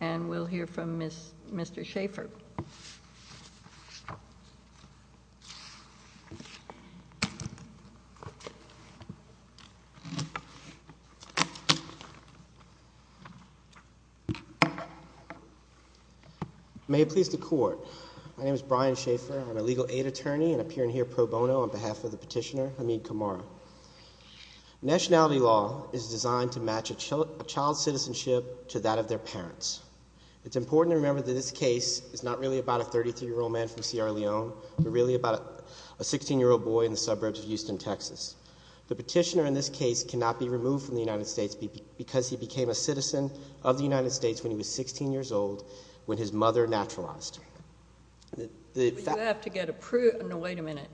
And we'll hear from Mr. Schaefer. May it please the court. My name is Brian Schaefer. I'm a legal aid attorney and appearing here pro bono on behalf of the petitioner, Hamid Kamara. Nationality law is designed to match a child's citizenship to that of their parents. It's important to remember that this case is not really about a 33-year-old man from Sierra Leone, but really about a 16-year-old boy in the suburbs of Houston, Texas. The petitioner in this case cannot be removed from the United States because he became a citizen of the United States when he was 16 years old, when his mother naturalized. You have to get a proof. No, wait a minute.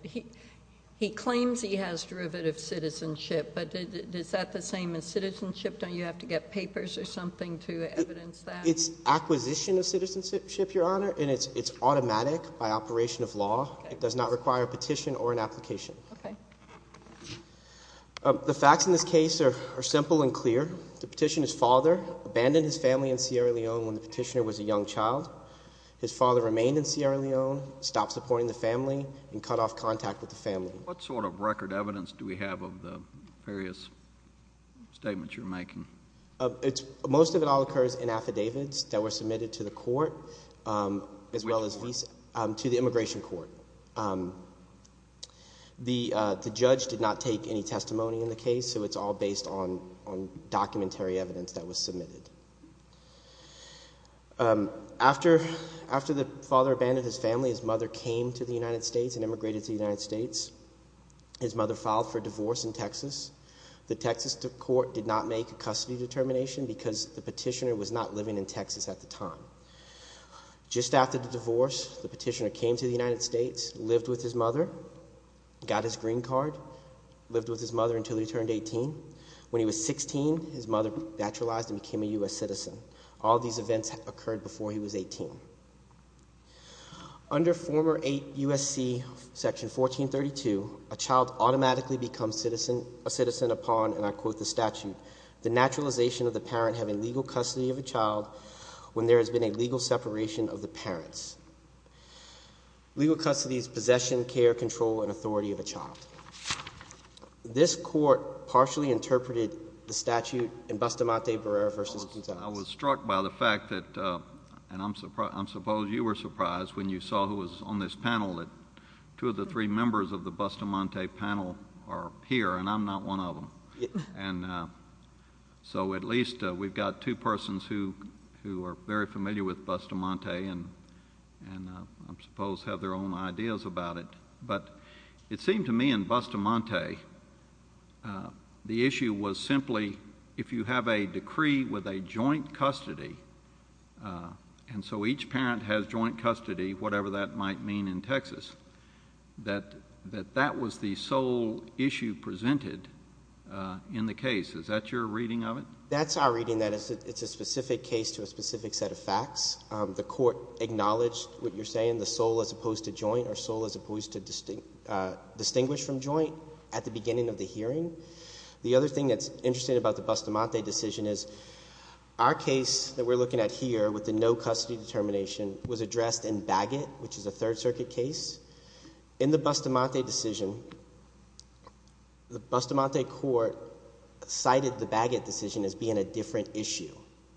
He claims he has derivative citizenship, but is that the same as citizenship? Don't you have to get papers or something to evidence that? It's acquisition of citizenship, Your Honor, and it's automatic by operation of law. It does not require a petition or an application. Okay. The facts in this case are simple and clear. The petitioner's father abandoned his family in Sierra Leone when the petitioner was a young child. His father remained in Sierra Leone, stopped supporting the family, and cut off contact with the family. What sort of record evidence do we have of the various statements you're making? Most of it all occurs in affidavits that were submitted to the court, as well as to the immigration court. The judge did not take any testimony in the case, so it's all based on documentary evidence that was submitted. After the father abandoned his family, his mother came to the United States and immigrated to the United States. His mother filed for divorce in Texas. The Texas court did not make a custody determination because the petitioner was not living in Texas at the time. Just after the divorce, the petitioner came to the United States, lived with his mother, got his green card, lived with his mother until he turned 18. When he was 16, his mother naturalized and became a U.S. citizen. All these events occurred before he was 18. Under former USC section 1432, a child automatically becomes a citizen upon, and I quote the statute, the naturalization of the parent having legal custody of a child when there has been a legal separation of the parents. Legal custody is possession, care, control, and authority of a child. This court partially interpreted the statute in Bustamante, Barrera v. Gonzales. I was struck by the fact that, and I suppose you were surprised when you saw who was on this panel, that two of the three members of the Bustamante panel are here, and I'm not one of them. And so at least we've got two persons who are very familiar with Bustamante and I suppose have their own ideas about it. But it seemed to me in Bustamante the issue was simply if you have a decree with a joint custody, and so each parent has joint custody, whatever that might mean in Texas, that that was the sole issue presented in the case. Is that your reading of it? That's our reading, that it's a specific case to a specific set of facts. The court acknowledged what you're saying, the sole as opposed to joint, or sole as opposed to distinguished from joint, at the beginning of the hearing. The other thing that's interesting about the Bustamante decision is our case that we're looking at here, with the no custody determination, was addressed in Bagot, which is a Third Circuit case. In the Bustamante decision, the Bustamante court cited the Bagot decision as being a different issue.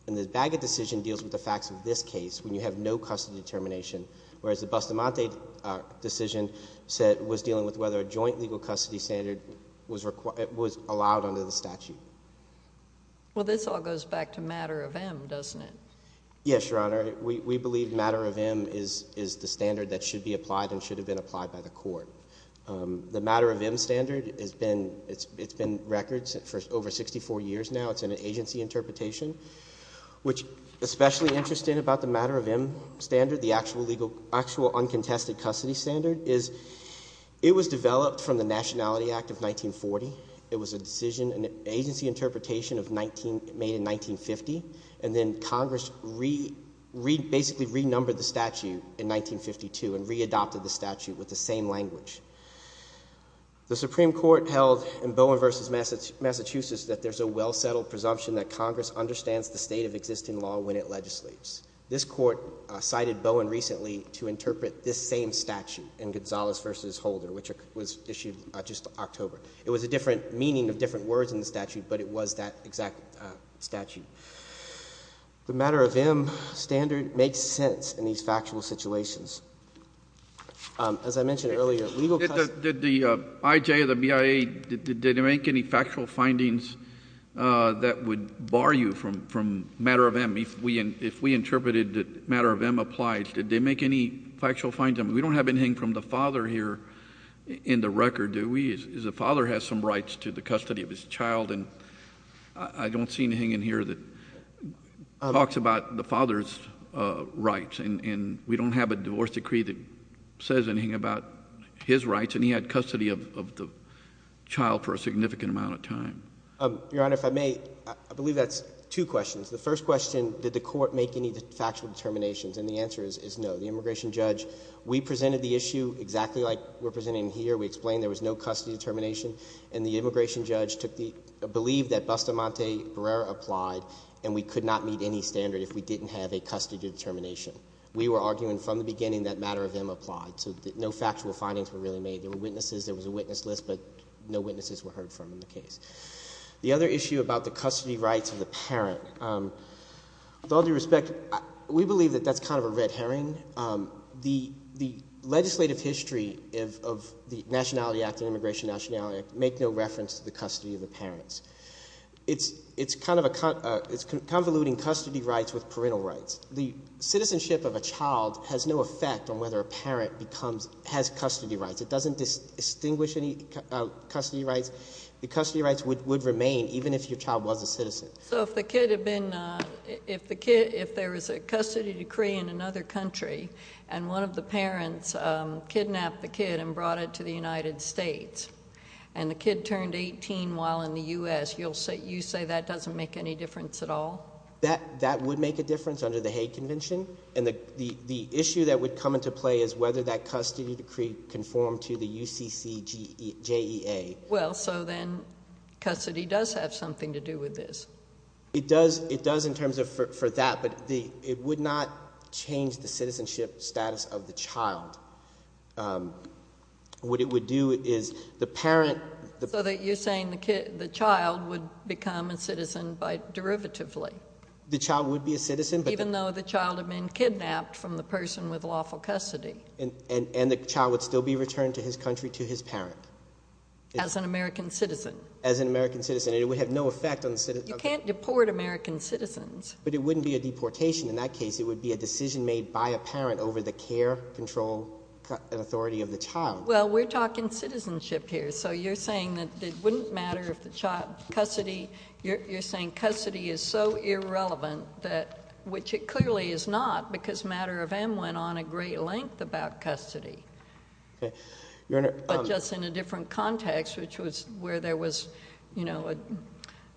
And the Bagot decision deals with the facts of this case when you have no custody determination, whereas the Bustamante decision was dealing with whether a joint legal custody standard was allowed under the statute. Well, this all goes back to matter of M, doesn't it? Yes, Your Honor. We believe matter of M is the standard that should be applied and should have been applied by the court. The matter of M standard, it's been records for over 64 years now. It's an agency interpretation, which is especially interesting about the matter of M standard, the actual uncontested custody standard, is it was developed from the Nationality Act of 1940. It was a decision, an agency interpretation made in 1950, and then Congress basically renumbered the statute in 1952 and readopted the statute with the same language. The Supreme Court held in Bowen v. Massachusetts that there's a well-settled presumption that Congress understands the state of existing law when it legislates. This Court cited Bowen recently to interpret this same statute in Gonzalez v. Holder, which was issued just October. It was a different meaning of different words in the statute, but it was that exact statute. The matter of M standard makes sense in these factual situations. As I mentioned earlier, legal custody— Did the IJ or the BIA, did they make any factual findings that would bar you from matter of M? If we interpreted that matter of M applied, did they make any factual findings? I mean, we don't have anything from the father here in the record, do we? The father has some rights to the custody of his child, and I don't see anything in here that talks about the father's rights. And we don't have a divorce decree that says anything about his rights, and he had custody of the child for a significant amount of time. Your Honor, if I may, I believe that's two questions. The first question, did the court make any factual determinations? And the answer is no. The immigration judge—we presented the issue exactly like we're presenting here. We explained there was no custody determination, and the immigration judge took the— and we could not meet any standard if we didn't have a custody determination. We were arguing from the beginning that matter of M applied, so no factual findings were really made. There were witnesses. There was a witness list, but no witnesses were heard from in the case. The other issue about the custody rights of the parent, with all due respect, we believe that that's kind of a red herring. The legislative history of the Nationality Act and Immigration Nationality Act make no reference to the custody of the parents. It's kind of a—it's convoluting custody rights with parental rights. The citizenship of a child has no effect on whether a parent becomes—has custody rights. It doesn't distinguish any custody rights. The custody rights would remain even if your child was a citizen. So if the kid had been—if the kid—if there was a custody decree in another country, and one of the parents kidnapped the kid and brought it to the United States, and the kid turned 18 while in the U.S., you say that doesn't make any difference at all? That would make a difference under the Hague Convention, and the issue that would come into play is whether that custody decree conformed to the UCCJEA. Well, so then custody does have something to do with this. It does in terms of—for that, but it would not change the citizenship status of the child. What it would do is the parent— So you're saying the child would become a citizen by—derivatively. The child would be a citizen, but— Even though the child had been kidnapped from the person with lawful custody. And the child would still be returned to his country to his parent. As an American citizen. As an American citizen, and it would have no effect on— You can't deport American citizens. But it wouldn't be a deportation. In that case, it would be a decision made by a parent over the care, control, and authority of the child. Well, we're talking citizenship here. So you're saying that it wouldn't matter if the child— Custody—you're saying custody is so irrelevant that— which it clearly is not because Matter of M went on a great length about custody. But just in a different context, which was where there was, you know,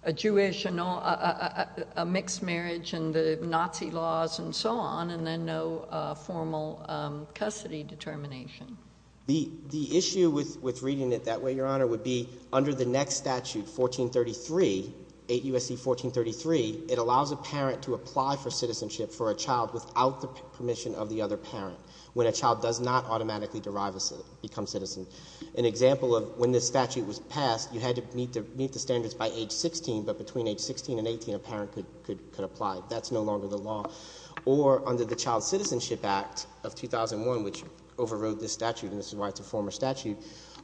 a Jewish, a mixed marriage, and the Nazi laws, and so on, and then no formal custody determination. The issue with reading it that way, Your Honor, would be under the next statute, 1433, 8 U.S.C. 1433, it allows a parent to apply for citizenship for a child without the permission of the other parent, when a child does not automatically become citizen. An example of when this statute was passed, you had to meet the standards by age 16, but between age 16 and 18, a parent could apply. That's no longer the law. Or under the Child Citizenship Act of 2001, which overrode this statute, and this is why it's a former statute,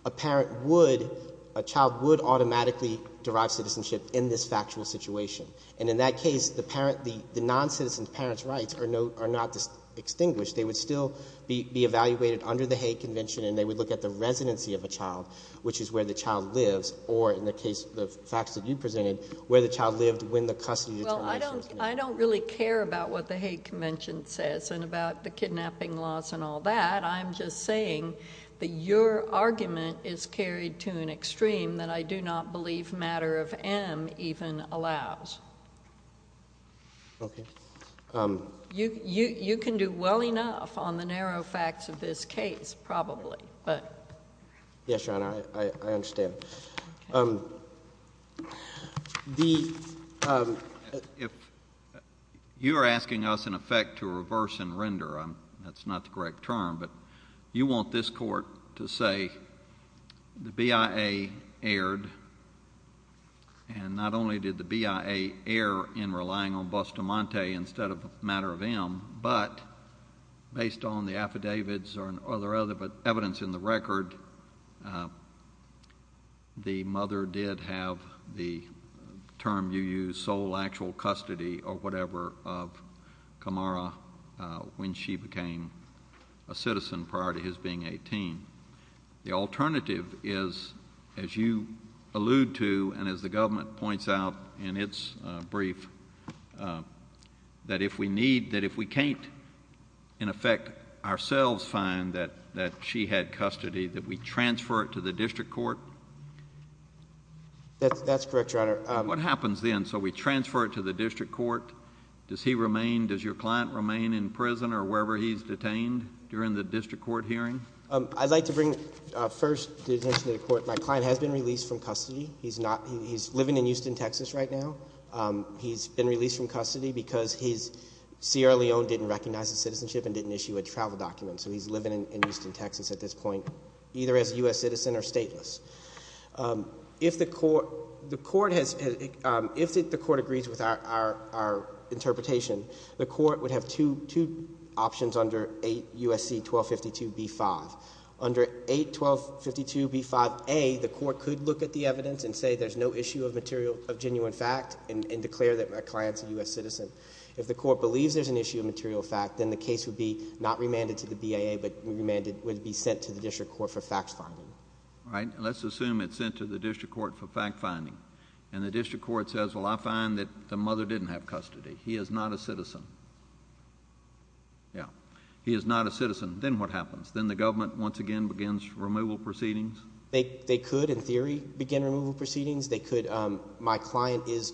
a parent would, a child would automatically derive citizenship in this factual situation. And in that case, the parent, the noncitizen parent's rights are not extinguished. They would still be evaluated under the Hague Convention, and they would look at the residency of a child, which is where the child lives, or in the case of the facts that you presented, where the child lived when the custody determination was made. Well, I don't really care about what the Hague Convention says and about the kidnapping laws and all that. I'm just saying that your argument is carried to an extreme that I do not believe matter of M even allows. Okay. You can do well enough on the narrow facts of this case, probably, but... Yes, Your Honor, I understand. Okay. If you are asking us, in effect, to reverse and render, that's not the correct term, but you want this court to say the BIA erred, and not only did the BIA err in relying on Bustamante instead of matter of M, but based on the affidavits or other evidence in the record, the mother did have the term you use, sole actual custody or whatever, of Camara when she became a citizen prior to his being 18. The alternative is, as you allude to and as the government points out in its brief, that if we need... that if we can't, in effect, ourselves find that she had custody, that we transfer it to the district court? That's correct, Your Honor. What happens then? So we transfer it to the district court? Does he remain... does your client remain in prison or wherever he's detained during the district court hearing? I'd like to bring first the attention to the court. My client has been released from custody. He's not... he's living in Houston, Texas right now. He's been released from custody because he's... Sierra Leone didn't recognize his citizenship and didn't issue a travel document, so he's living in Houston, Texas at this point, either as a U.S. citizen or stateless. If the court has... if the court agrees with our interpretation, the court would have two options under 8 U.S.C. 1252b-5. Under 8 U.S.C. 1252b-5a, the court could look at the evidence and say there's no issue of material... of genuine fact and declare that my client's a U.S. citizen. If the court believes there's an issue of material fact, then the case would be not remanded to the BAA, but remanded... would be sent to the district court for fact-finding. All right. Let's assume it's sent to the district court for fact-finding, and the district court says, well, I find that the mother didn't have custody. Yeah. He is not a citizen. Then what happens? Then the government, once again, begins removal proceedings? They could, in theory, begin removal proceedings. They could... my client is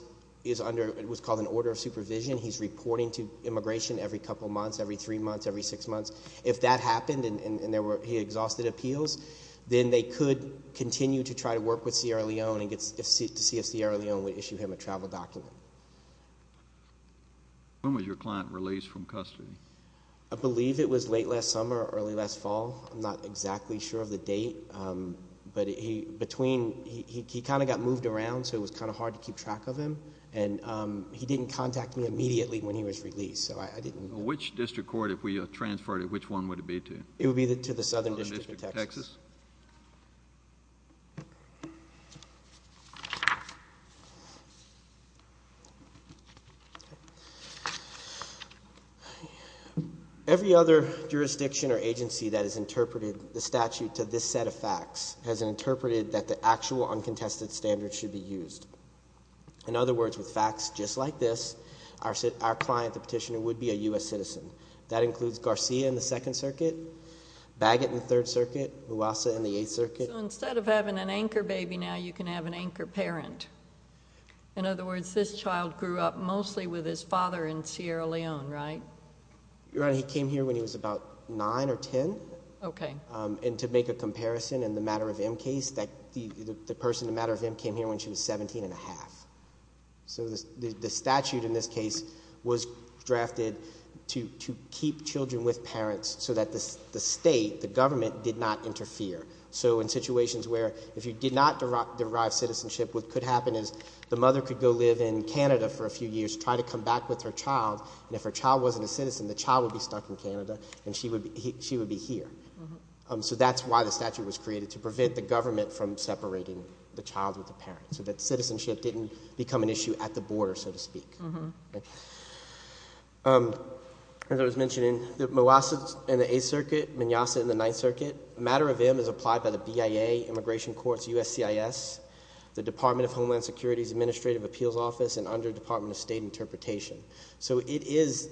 under what's called an order of supervision. He's reporting to immigration every couple months, every three months, every six months. If that happened and there were... he exhausted appeals, then they could continue to try to work with Sierra Leone and get... to see if Sierra Leone would issue him a travel document. When was your client released from custody? I believe it was late last summer or early last fall. I'm not exactly sure of the date. But he... between... he kind of got moved around, so it was kind of hard to keep track of him. And he didn't contact me immediately when he was released, so I didn't... Which district court, if we transferred it, which one would it be to? Southern District of Texas. Every other jurisdiction or agency that has interpreted the statute to this set of facts has interpreted that the actual uncontested standards should be used. In other words, with facts just like this, our client, the petitioner, would be a U.S. citizen. That includes Garcia in the Second Circuit, Bagot in the Third Circuit, Mouassa in the Eighth Circuit. So, instead of having an anchor baby now, you can have an anchor parent. In other words, this child grew up mostly with his father in Sierra Leone, right? Your Honor, he came here when he was about 9 or 10. Okay. And to make a comparison in the Matter of M case, the person in Matter of M came here when she was 17 and a half. So, the statute in this case was drafted to keep children with parents so that the state, the government, did not interfere. So, in situations where if you did not derive citizenship, what could happen is the mother could go live in Canada for a few years, try to come back with her child, and if her child wasn't a citizen, the child would be stuck in Canada and she would be here. So, that's why the statute was created, to prevent the government from separating the child with the parent, so that citizenship didn't become an issue at the border, so to speak. As I was mentioning, Mouassa in the Eighth Circuit, Mignasa in the Ninth Circuit. Matter of M is applied by the BIA, Immigration Courts, USCIS, the Department of Homeland Security's Administrative Appeals Office, and under Department of State Interpretation. So, it is,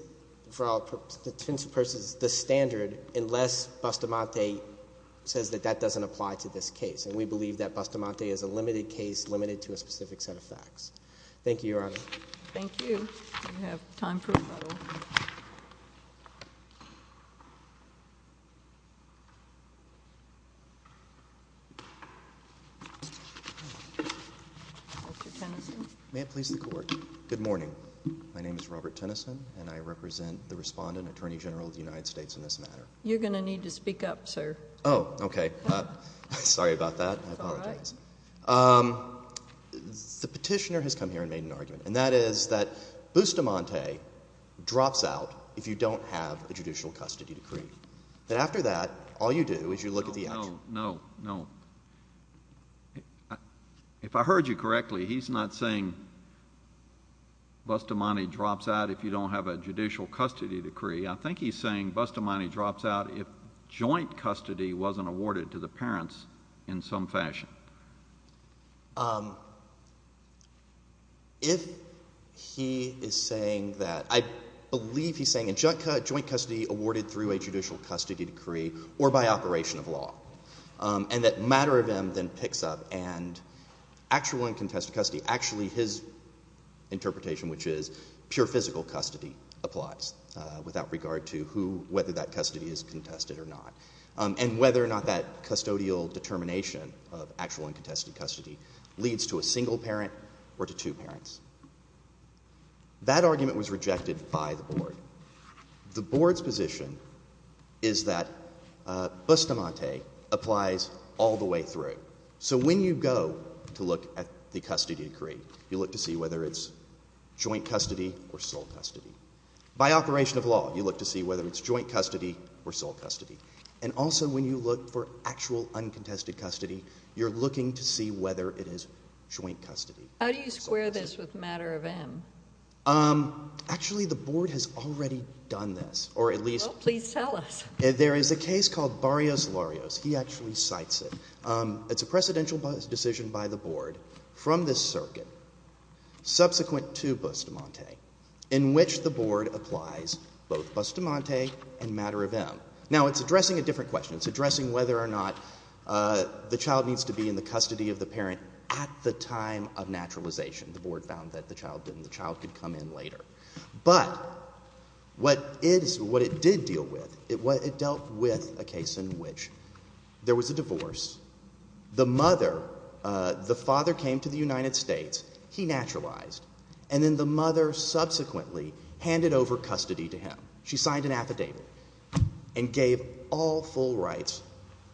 for all intents and purposes, the standard, unless Bustamante says that that doesn't apply to this case. And we believe that Bustamante is a limited case, limited to a specific set of facts. Thank you, Your Honor. Thank you. We have time for one more. Mr. Tennyson. May it please the Court. Good morning. My name is Robert Tennyson, and I represent the respondent, Attorney General of the United States, in this matter. You're going to need to speak up, sir. Oh, okay. Sorry about that. That's all right. I apologize. The petitioner has come here and made an argument, and that is that Bustamante drops out if you don't have a judicial custody decree. That after that, all you do is you look at the action. No, no, no. If I heard you correctly, he's not saying Bustamante drops out if you don't have a judicial custody decree. I think he's saying Bustamante drops out if joint custody wasn't awarded to the parents in some fashion. If he is saying that, I believe he's saying a joint custody awarded through a judicial custody decree or by operation of law, and that matter of M then picks up, and actual and contested custody, actually his interpretation, which is pure physical custody, applies without regard to whether that custody is contested or not, and whether or not that custodial determination of actual and contested custody leads to a single parent or to two parents. That argument was rejected by the board. The board's position is that Bustamante applies all the way through. So when you go to look at the custody decree, you look to see whether it's joint custody or sole custody. By operation of law, you look to see whether it's joint custody or sole custody. And also when you look for actual uncontested custody, you're looking to see whether it is joint custody. How do you square this with matter of M? Actually, the board has already done this, or at least— Well, please tell us. There is a case called Barrios-Larios. He actually cites it. It's a precedential decision by the board from this circuit, subsequent to Bustamante, in which the board applies both Bustamante and matter of M. Now, it's addressing a different question. It's addressing whether or not the child needs to be in the custody of the parent at the time of naturalization. The board found that the child didn't. The child could come in later. But what it did deal with, it dealt with a case in which there was a divorce. The mother, the father came to the United States. He naturalized. And then the mother subsequently handed over custody to him. She signed an affidavit and gave all full rights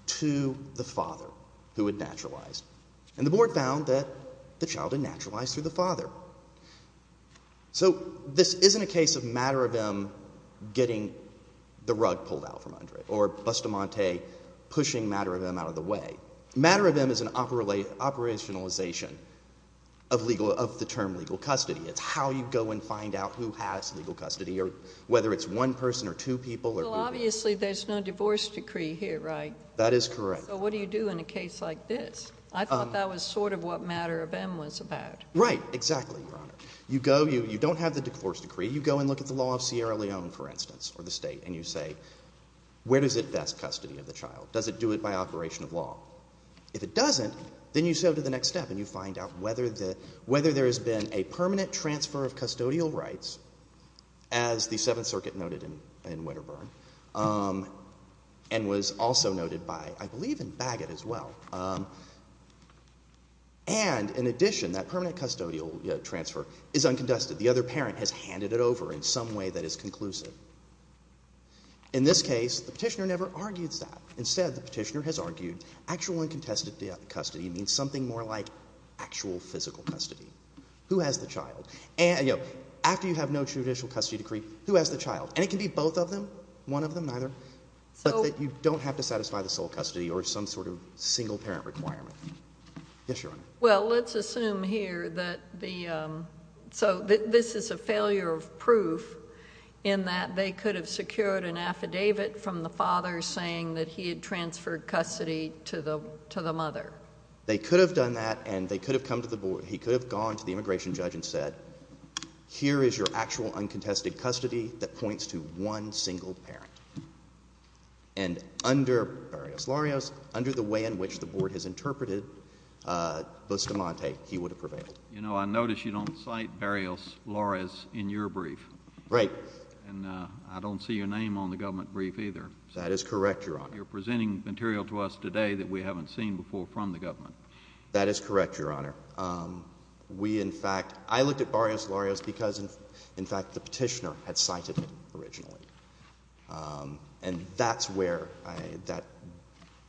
to the father who had naturalized. And the board found that the child had naturalized through the father. So this isn't a case of matter of M. getting the rug pulled out from under it or Bustamante pushing matter of M. out of the way. Matter of M. is an operationalization of the term legal custody. It's how you go and find out who has legal custody or whether it's one person or two people. Well, obviously there's no divorce decree here, right? That is correct. So what do you do in a case like this? I thought that was sort of what matter of M. was about. Right, exactly, Your Honor. You go. You don't have the divorce decree. You go and look at the law of Sierra Leone, for instance, or the State, and you say, where does it vest custody of the child? Does it do it by operation of law? If it doesn't, then you sail to the next step and you find out whether there has been a permanent transfer of custodial rights, as the Seventh Circuit noted in Winterburn, and was also noted by, I believe, in Bagot as well. And in addition, that permanent custodial transfer is uncontested. The other parent has handed it over in some way that is conclusive. In this case, the petitioner never argues that. Instead, the petitioner has argued actual uncontested custody means something more like actual physical custody. Who has the child? After you have no judicial custody decree, who has the child? And it can be both of them, one of them, neither, but that you don't have to satisfy the sole custody or some sort of single parent requirement. Yes, Your Honor. Well, let's assume here that the ‑‑ so this is a failure of proof in that they could have secured an affidavit from the father saying that he had transferred custody to the mother. They could have done that and they could have come to the board. He could have gone to the immigration judge and said, here is your actual uncontested custody that points to one single parent. And under Barrios-Lorez, under the way in which the board has interpreted Bustamante, he would have prevailed. You know, I notice you don't cite Barrios-Lorez in your brief. Right. And I don't see your name on the government brief either. That is correct, Your Honor. You're presenting material to us today that we haven't seen before from the government. That is correct, Your Honor. We, in fact ‑‑ I looked at Barrios-Lorez because, in fact, the petitioner had cited him originally. And that's where I ‑‑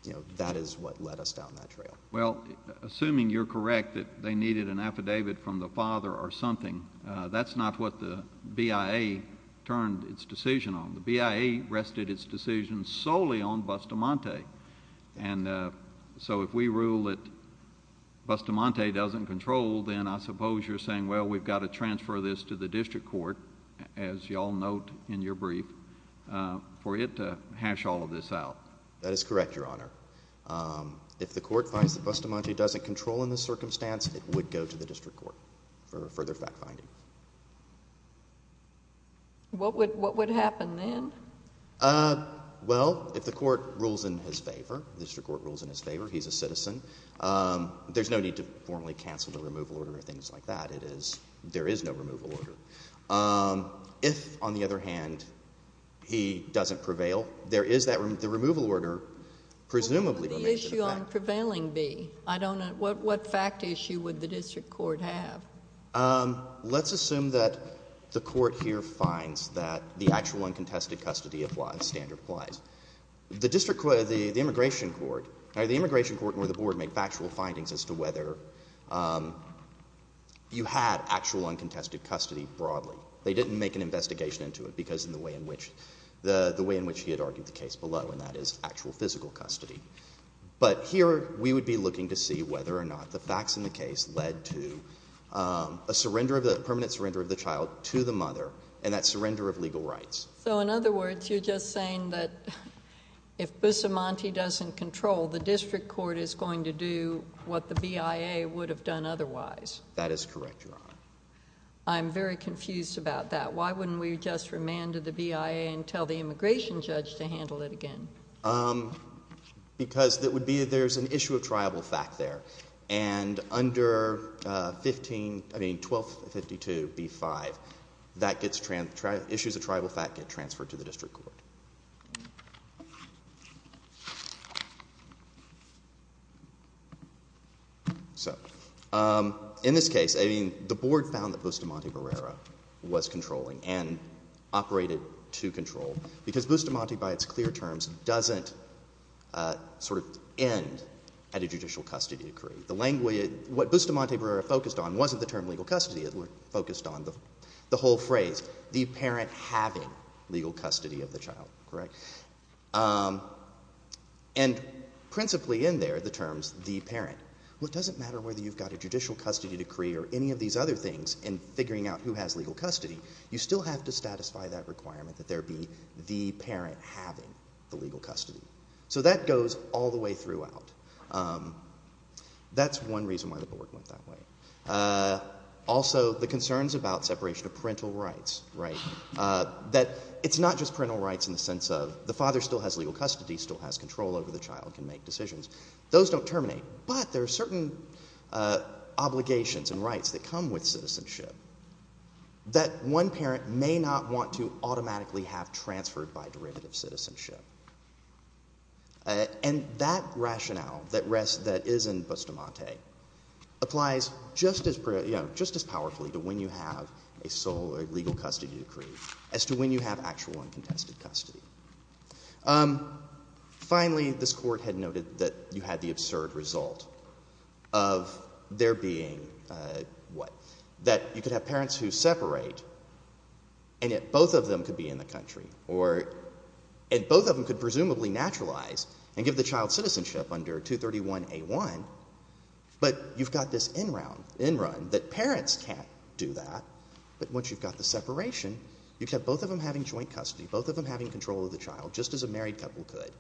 you know, that is what led us down that trail. Well, assuming you're correct that they needed an affidavit from the father or something, that's not what the BIA turned its decision on. The BIA rested its decision solely on Bustamante. And so if we rule that Bustamante doesn't control, then I suppose you're saying, well, we've got to transfer this to the district court, as you all note in your brief, for it to hash all of this out. That is correct, Your Honor. If the court finds that Bustamante doesn't control in this circumstance, it would go to the district court for further fact finding. What would happen then? Well, if the court rules in his favor, district court rules in his favor, he's a citizen, there's no need to formally cancel the removal order or things like that. It is ‑‑ there is no removal order. If, on the other hand, he doesn't prevail, there is that removal order, presumably ‑‑ What would the issue on prevailing be? I don't know. What fact issue would the district court have? Let's assume that the court here finds that the actual uncontested custody standard applies. The district court, the immigration court, or the immigration court and the board make factual findings as to whether you had actual uncontested custody broadly. They didn't make an investigation into it because of the way in which he had argued the case below, and that is actual physical custody. But here we would be looking to see whether or not the facts in the case led to a surrender of the ‑‑ permanent surrender of the child to the mother and that surrender of legal rights. So in other words, you're just saying that if Bustamante doesn't control, the district court is going to do what the BIA would have done otherwise. That is correct, Your Honor. I'm very confused about that. Why wouldn't we just remand to the BIA and tell the immigration judge to handle it again? Because it would be that there's an issue of triable fact there. And under 15 ‑‑ I mean, 1252B5, that gets ‑‑ issues of triable fact get transferred to the district court. So in this case, I mean, the board found that Bustamante Barrera was controlling and operated to control because Bustamante, by its clear terms, doesn't sort of end at a judicial custody decree. The language ‑‑ what Bustamante Barrera focused on wasn't the term legal custody. It focused on the whole phrase, the parent having legal custody of the child. Correct? And principally in there, the terms the parent. Well, it doesn't matter whether you've got a judicial custody decree or any of these other things in figuring out who has legal custody, you still have to satisfy that requirement that there be the parent having the legal custody. So that goes all the way throughout. That's one reason why the board went that way. Also, the concerns about separation of parental rights, right? That it's not just parental rights in the sense of the father still has legal custody, still has control over the child, can make decisions. Those don't terminate. But there are certain obligations and rights that come with citizenship that one parent may not want to automatically have transferred by derivative citizenship. And that rationale that is in Bustamante applies just as powerfully to when you have a sole legal custody decree as to when you have actual uncontested custody. Finally, this Court had noted that you had the absurd result of there being, what, that you could have parents who separate and yet both of them could be in the country or and both of them could presumably naturalize and give the child citizenship under 231A1, but you've got this in round, in run, that parents can't do that. But once you've got the separation, you've got both of them having joint custody, both of them having control of the child, just as a married couple could,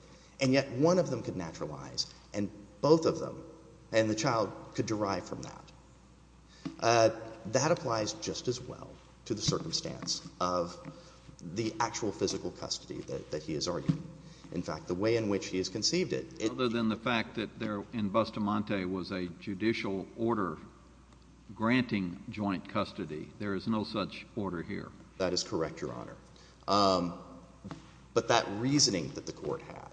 and yet one of them could naturalize and both of them and the child could derive from that. That applies just as well to the circumstance of the actual physical custody that he is arguing. In fact, the way in which he has conceived it— Other than the fact that there in Bustamante was a judicial order granting joint custody. There is no such order here. That is correct, Your Honor. But that reasoning that the Court had,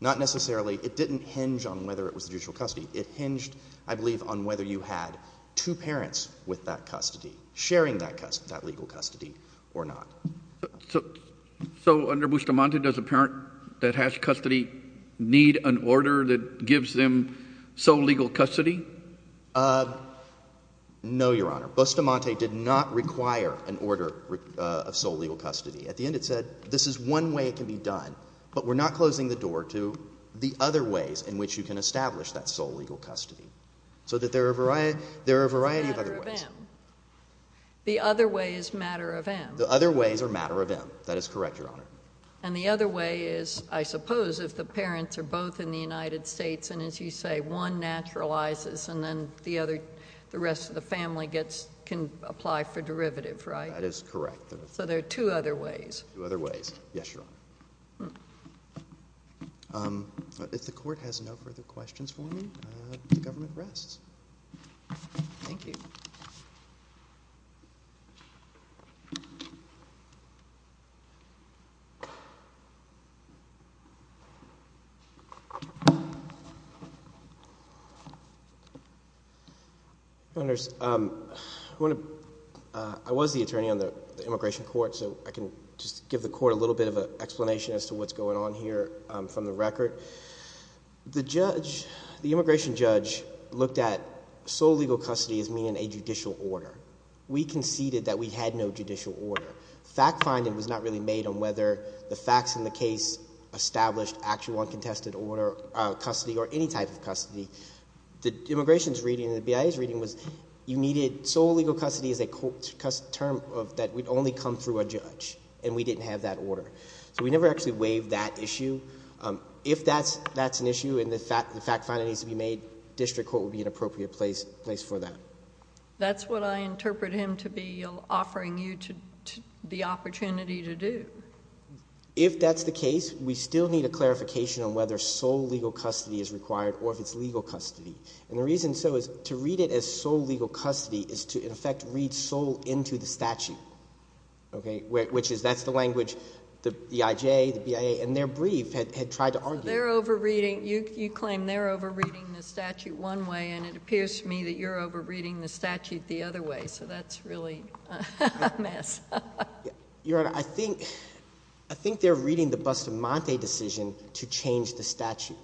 not necessarily—it didn't hinge on whether it was judicial custody. It hinged, I believe, on whether you had two parents with that custody sharing that legal custody or not. So under Bustamante, does a parent that has custody need an order that gives them sole legal custody? No, Your Honor. Bustamante did not require an order of sole legal custody. At the end it said, this is one way it can be done, but we're not closing the door to the other ways in which you can establish that sole legal custody. So that there are a variety of other ways. It's a matter of M. The other way is a matter of M. The other ways are a matter of M. That is correct, Your Honor. And the other way is, I suppose, if the parents are both in the United States, and as you say, one naturalizes and then the rest of the family can apply for derivative, right? That is correct. So there are two other ways. Two other ways. Yes, Your Honor. If the Court has no further questions for me, the Government rests. Thank you. Governors, I was the attorney on the Immigration Court, so I can just give the Court a little bit of an explanation as to what's going on here from the record. The judge, the immigration judge, looked at sole legal custody as meaning a judicial order. We conceded that we had no judicial order. Fact finding was not really made on whether the facts in the case established actual uncontested order, custody, or any type of custody. The immigration's reading and the BIA's reading was you needed sole legal custody as a term that would only come through a judge, and we didn't have that order. So we never actually waived that issue. If that's an issue and the fact finding needs to be made, district court would be an appropriate place for that. That's what I interpret him to be offering you the opportunity to do. If that's the case, we still need a clarification on whether sole legal custody is required or if it's legal custody. And the reason so is to read it as sole legal custody is to, in effect, read sole into the statute, okay, which is that's the language the BIJ, the BIA, and their brief had tried to argue. You claim they're over reading the statute one way, and it appears to me that you're over reading the statute the other way, so that's really a mess. Your Honor, I think they're reading the Bustamante decision to change the statute,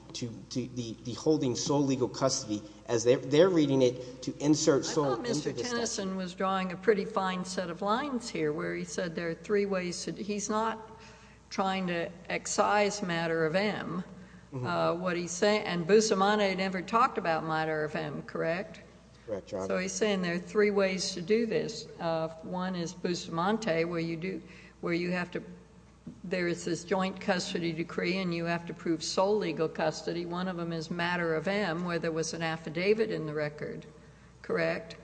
the holding sole legal custody as they're reading it to insert sole into the statute. I thought Mr. Tennyson was drawing a pretty fine set of lines here where he said there are three ways. He's not trying to excise matter of M. What he's saying, and Bustamante never talked about matter of M, correct? Correct, Your Honor. So he's saying there are three ways to do this. One is Bustamante, where you have to, there is this joint custody decree, and you have to prove sole legal custody. One of them is matter of M, where there was an affidavit in the record, correct?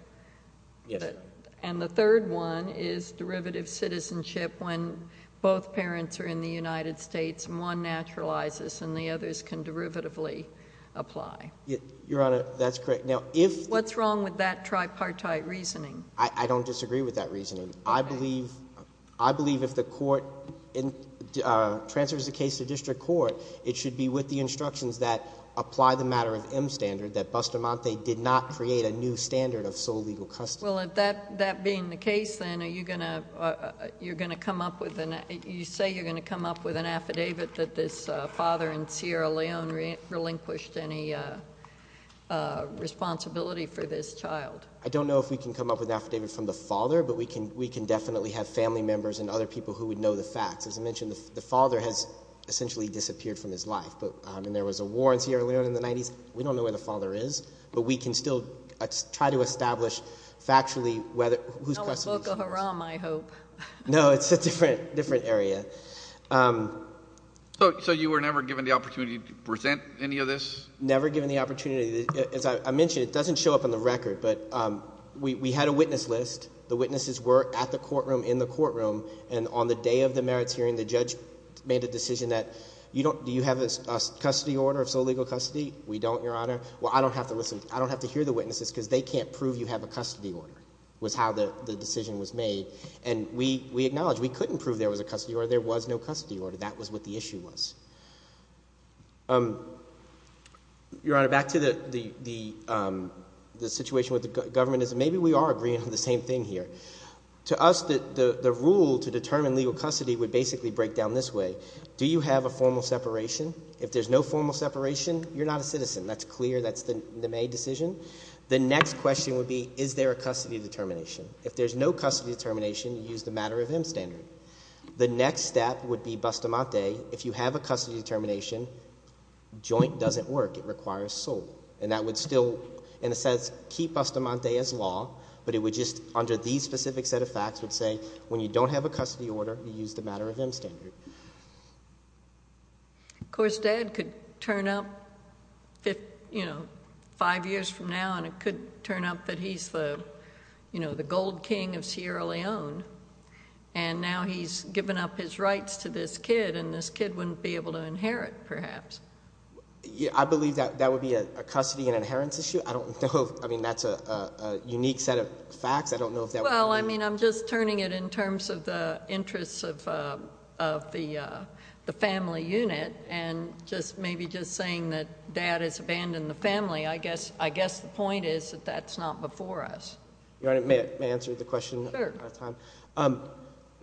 Yes, Your Honor. And the third one is derivative citizenship when both parents are in the United States and one naturalizes and the others can derivatively apply. Your Honor, that's correct. What's wrong with that tripartite reasoning? I don't disagree with that reasoning. Okay. I believe if the court transfers the case to district court, it should be with the instructions that apply the matter of M standard, that Bustamante did not create a new standard of sole legal custody. Well, that being the case, then, are you going to come up with, you say you're going to come up with an affidavit that this father in Sierra Leone relinquished any responsibility for this child? I don't know if we can come up with an affidavit from the father, but we can definitely have family members and other people who would know the facts. As I mentioned, the father has essentially disappeared from his life, and there was a war in Sierra Leone in the 90s. We don't know where the father is, but we can still try to establish factually whose custody this is. No, it's Boko Haram, I hope. No, it's a different area. So you were never given the opportunity to present any of this? Never given the opportunity. As I mentioned, it doesn't show up on the record, but we had a witness list. The witnesses were at the courtroom, in the courtroom, and on the day of the merits hearing the judge made a decision that do you have a custody order of sole legal custody? We don't, Your Honor. Well, I don't have to listen. I don't have to hear the witnesses because they can't prove you have a custody order was how the decision was made, and we acknowledge we couldn't prove there was a custody order. There was no custody order. That was what the issue was. Your Honor, back to the situation with the government is maybe we are agreeing on the same thing here. To us, the rule to determine legal custody would basically break down this way. Do you have a formal separation? If there's no formal separation, you're not a citizen. That's clear. That's the made decision. The next question would be is there a custody determination? If there's no custody determination, you use the matter of M standard. The next step would be bustamante. If you have a custody determination, joint doesn't work. It requires sole, and that would still, in a sense, keep bustamante as law, but it would just under these specific set of facts would say when you don't have a custody order, you use the matter of M standard. Of course, Dad could turn up five years from now, and it could turn up that he's the gold king of Sierra Leone, and now he's given up his rights to this kid, and this kid wouldn't be able to inherit, perhaps. I believe that would be a custody and inheritance issue. I don't know. I mean, that's a unique set of facts. I don't know if that would be. Well, I mean, I'm just turning it in terms of the interests of the family unit and just maybe just saying that Dad has abandoned the family. I guess the point is that that's not before us. Your Honor, may I answer the question? Sure.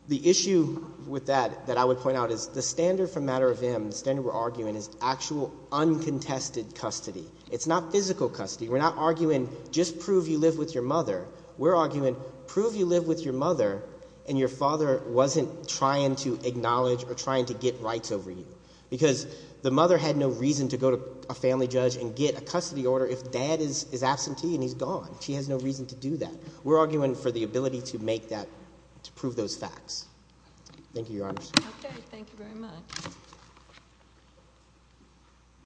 The issue with that that I would point out is the standard for matter of M, the standard we're arguing, is actual uncontested custody. It's not physical custody. We're not arguing just prove you live with your mother. We're arguing prove you live with your mother, and your father wasn't trying to acknowledge or trying to get rights over you because the mother had no reason to go to a family judge and get a custody order if Dad is absentee and he's gone. She has no reason to do that. We're arguing for the ability to make that, to prove those facts. Thank you, Your Honor. Okay. Thank you very much.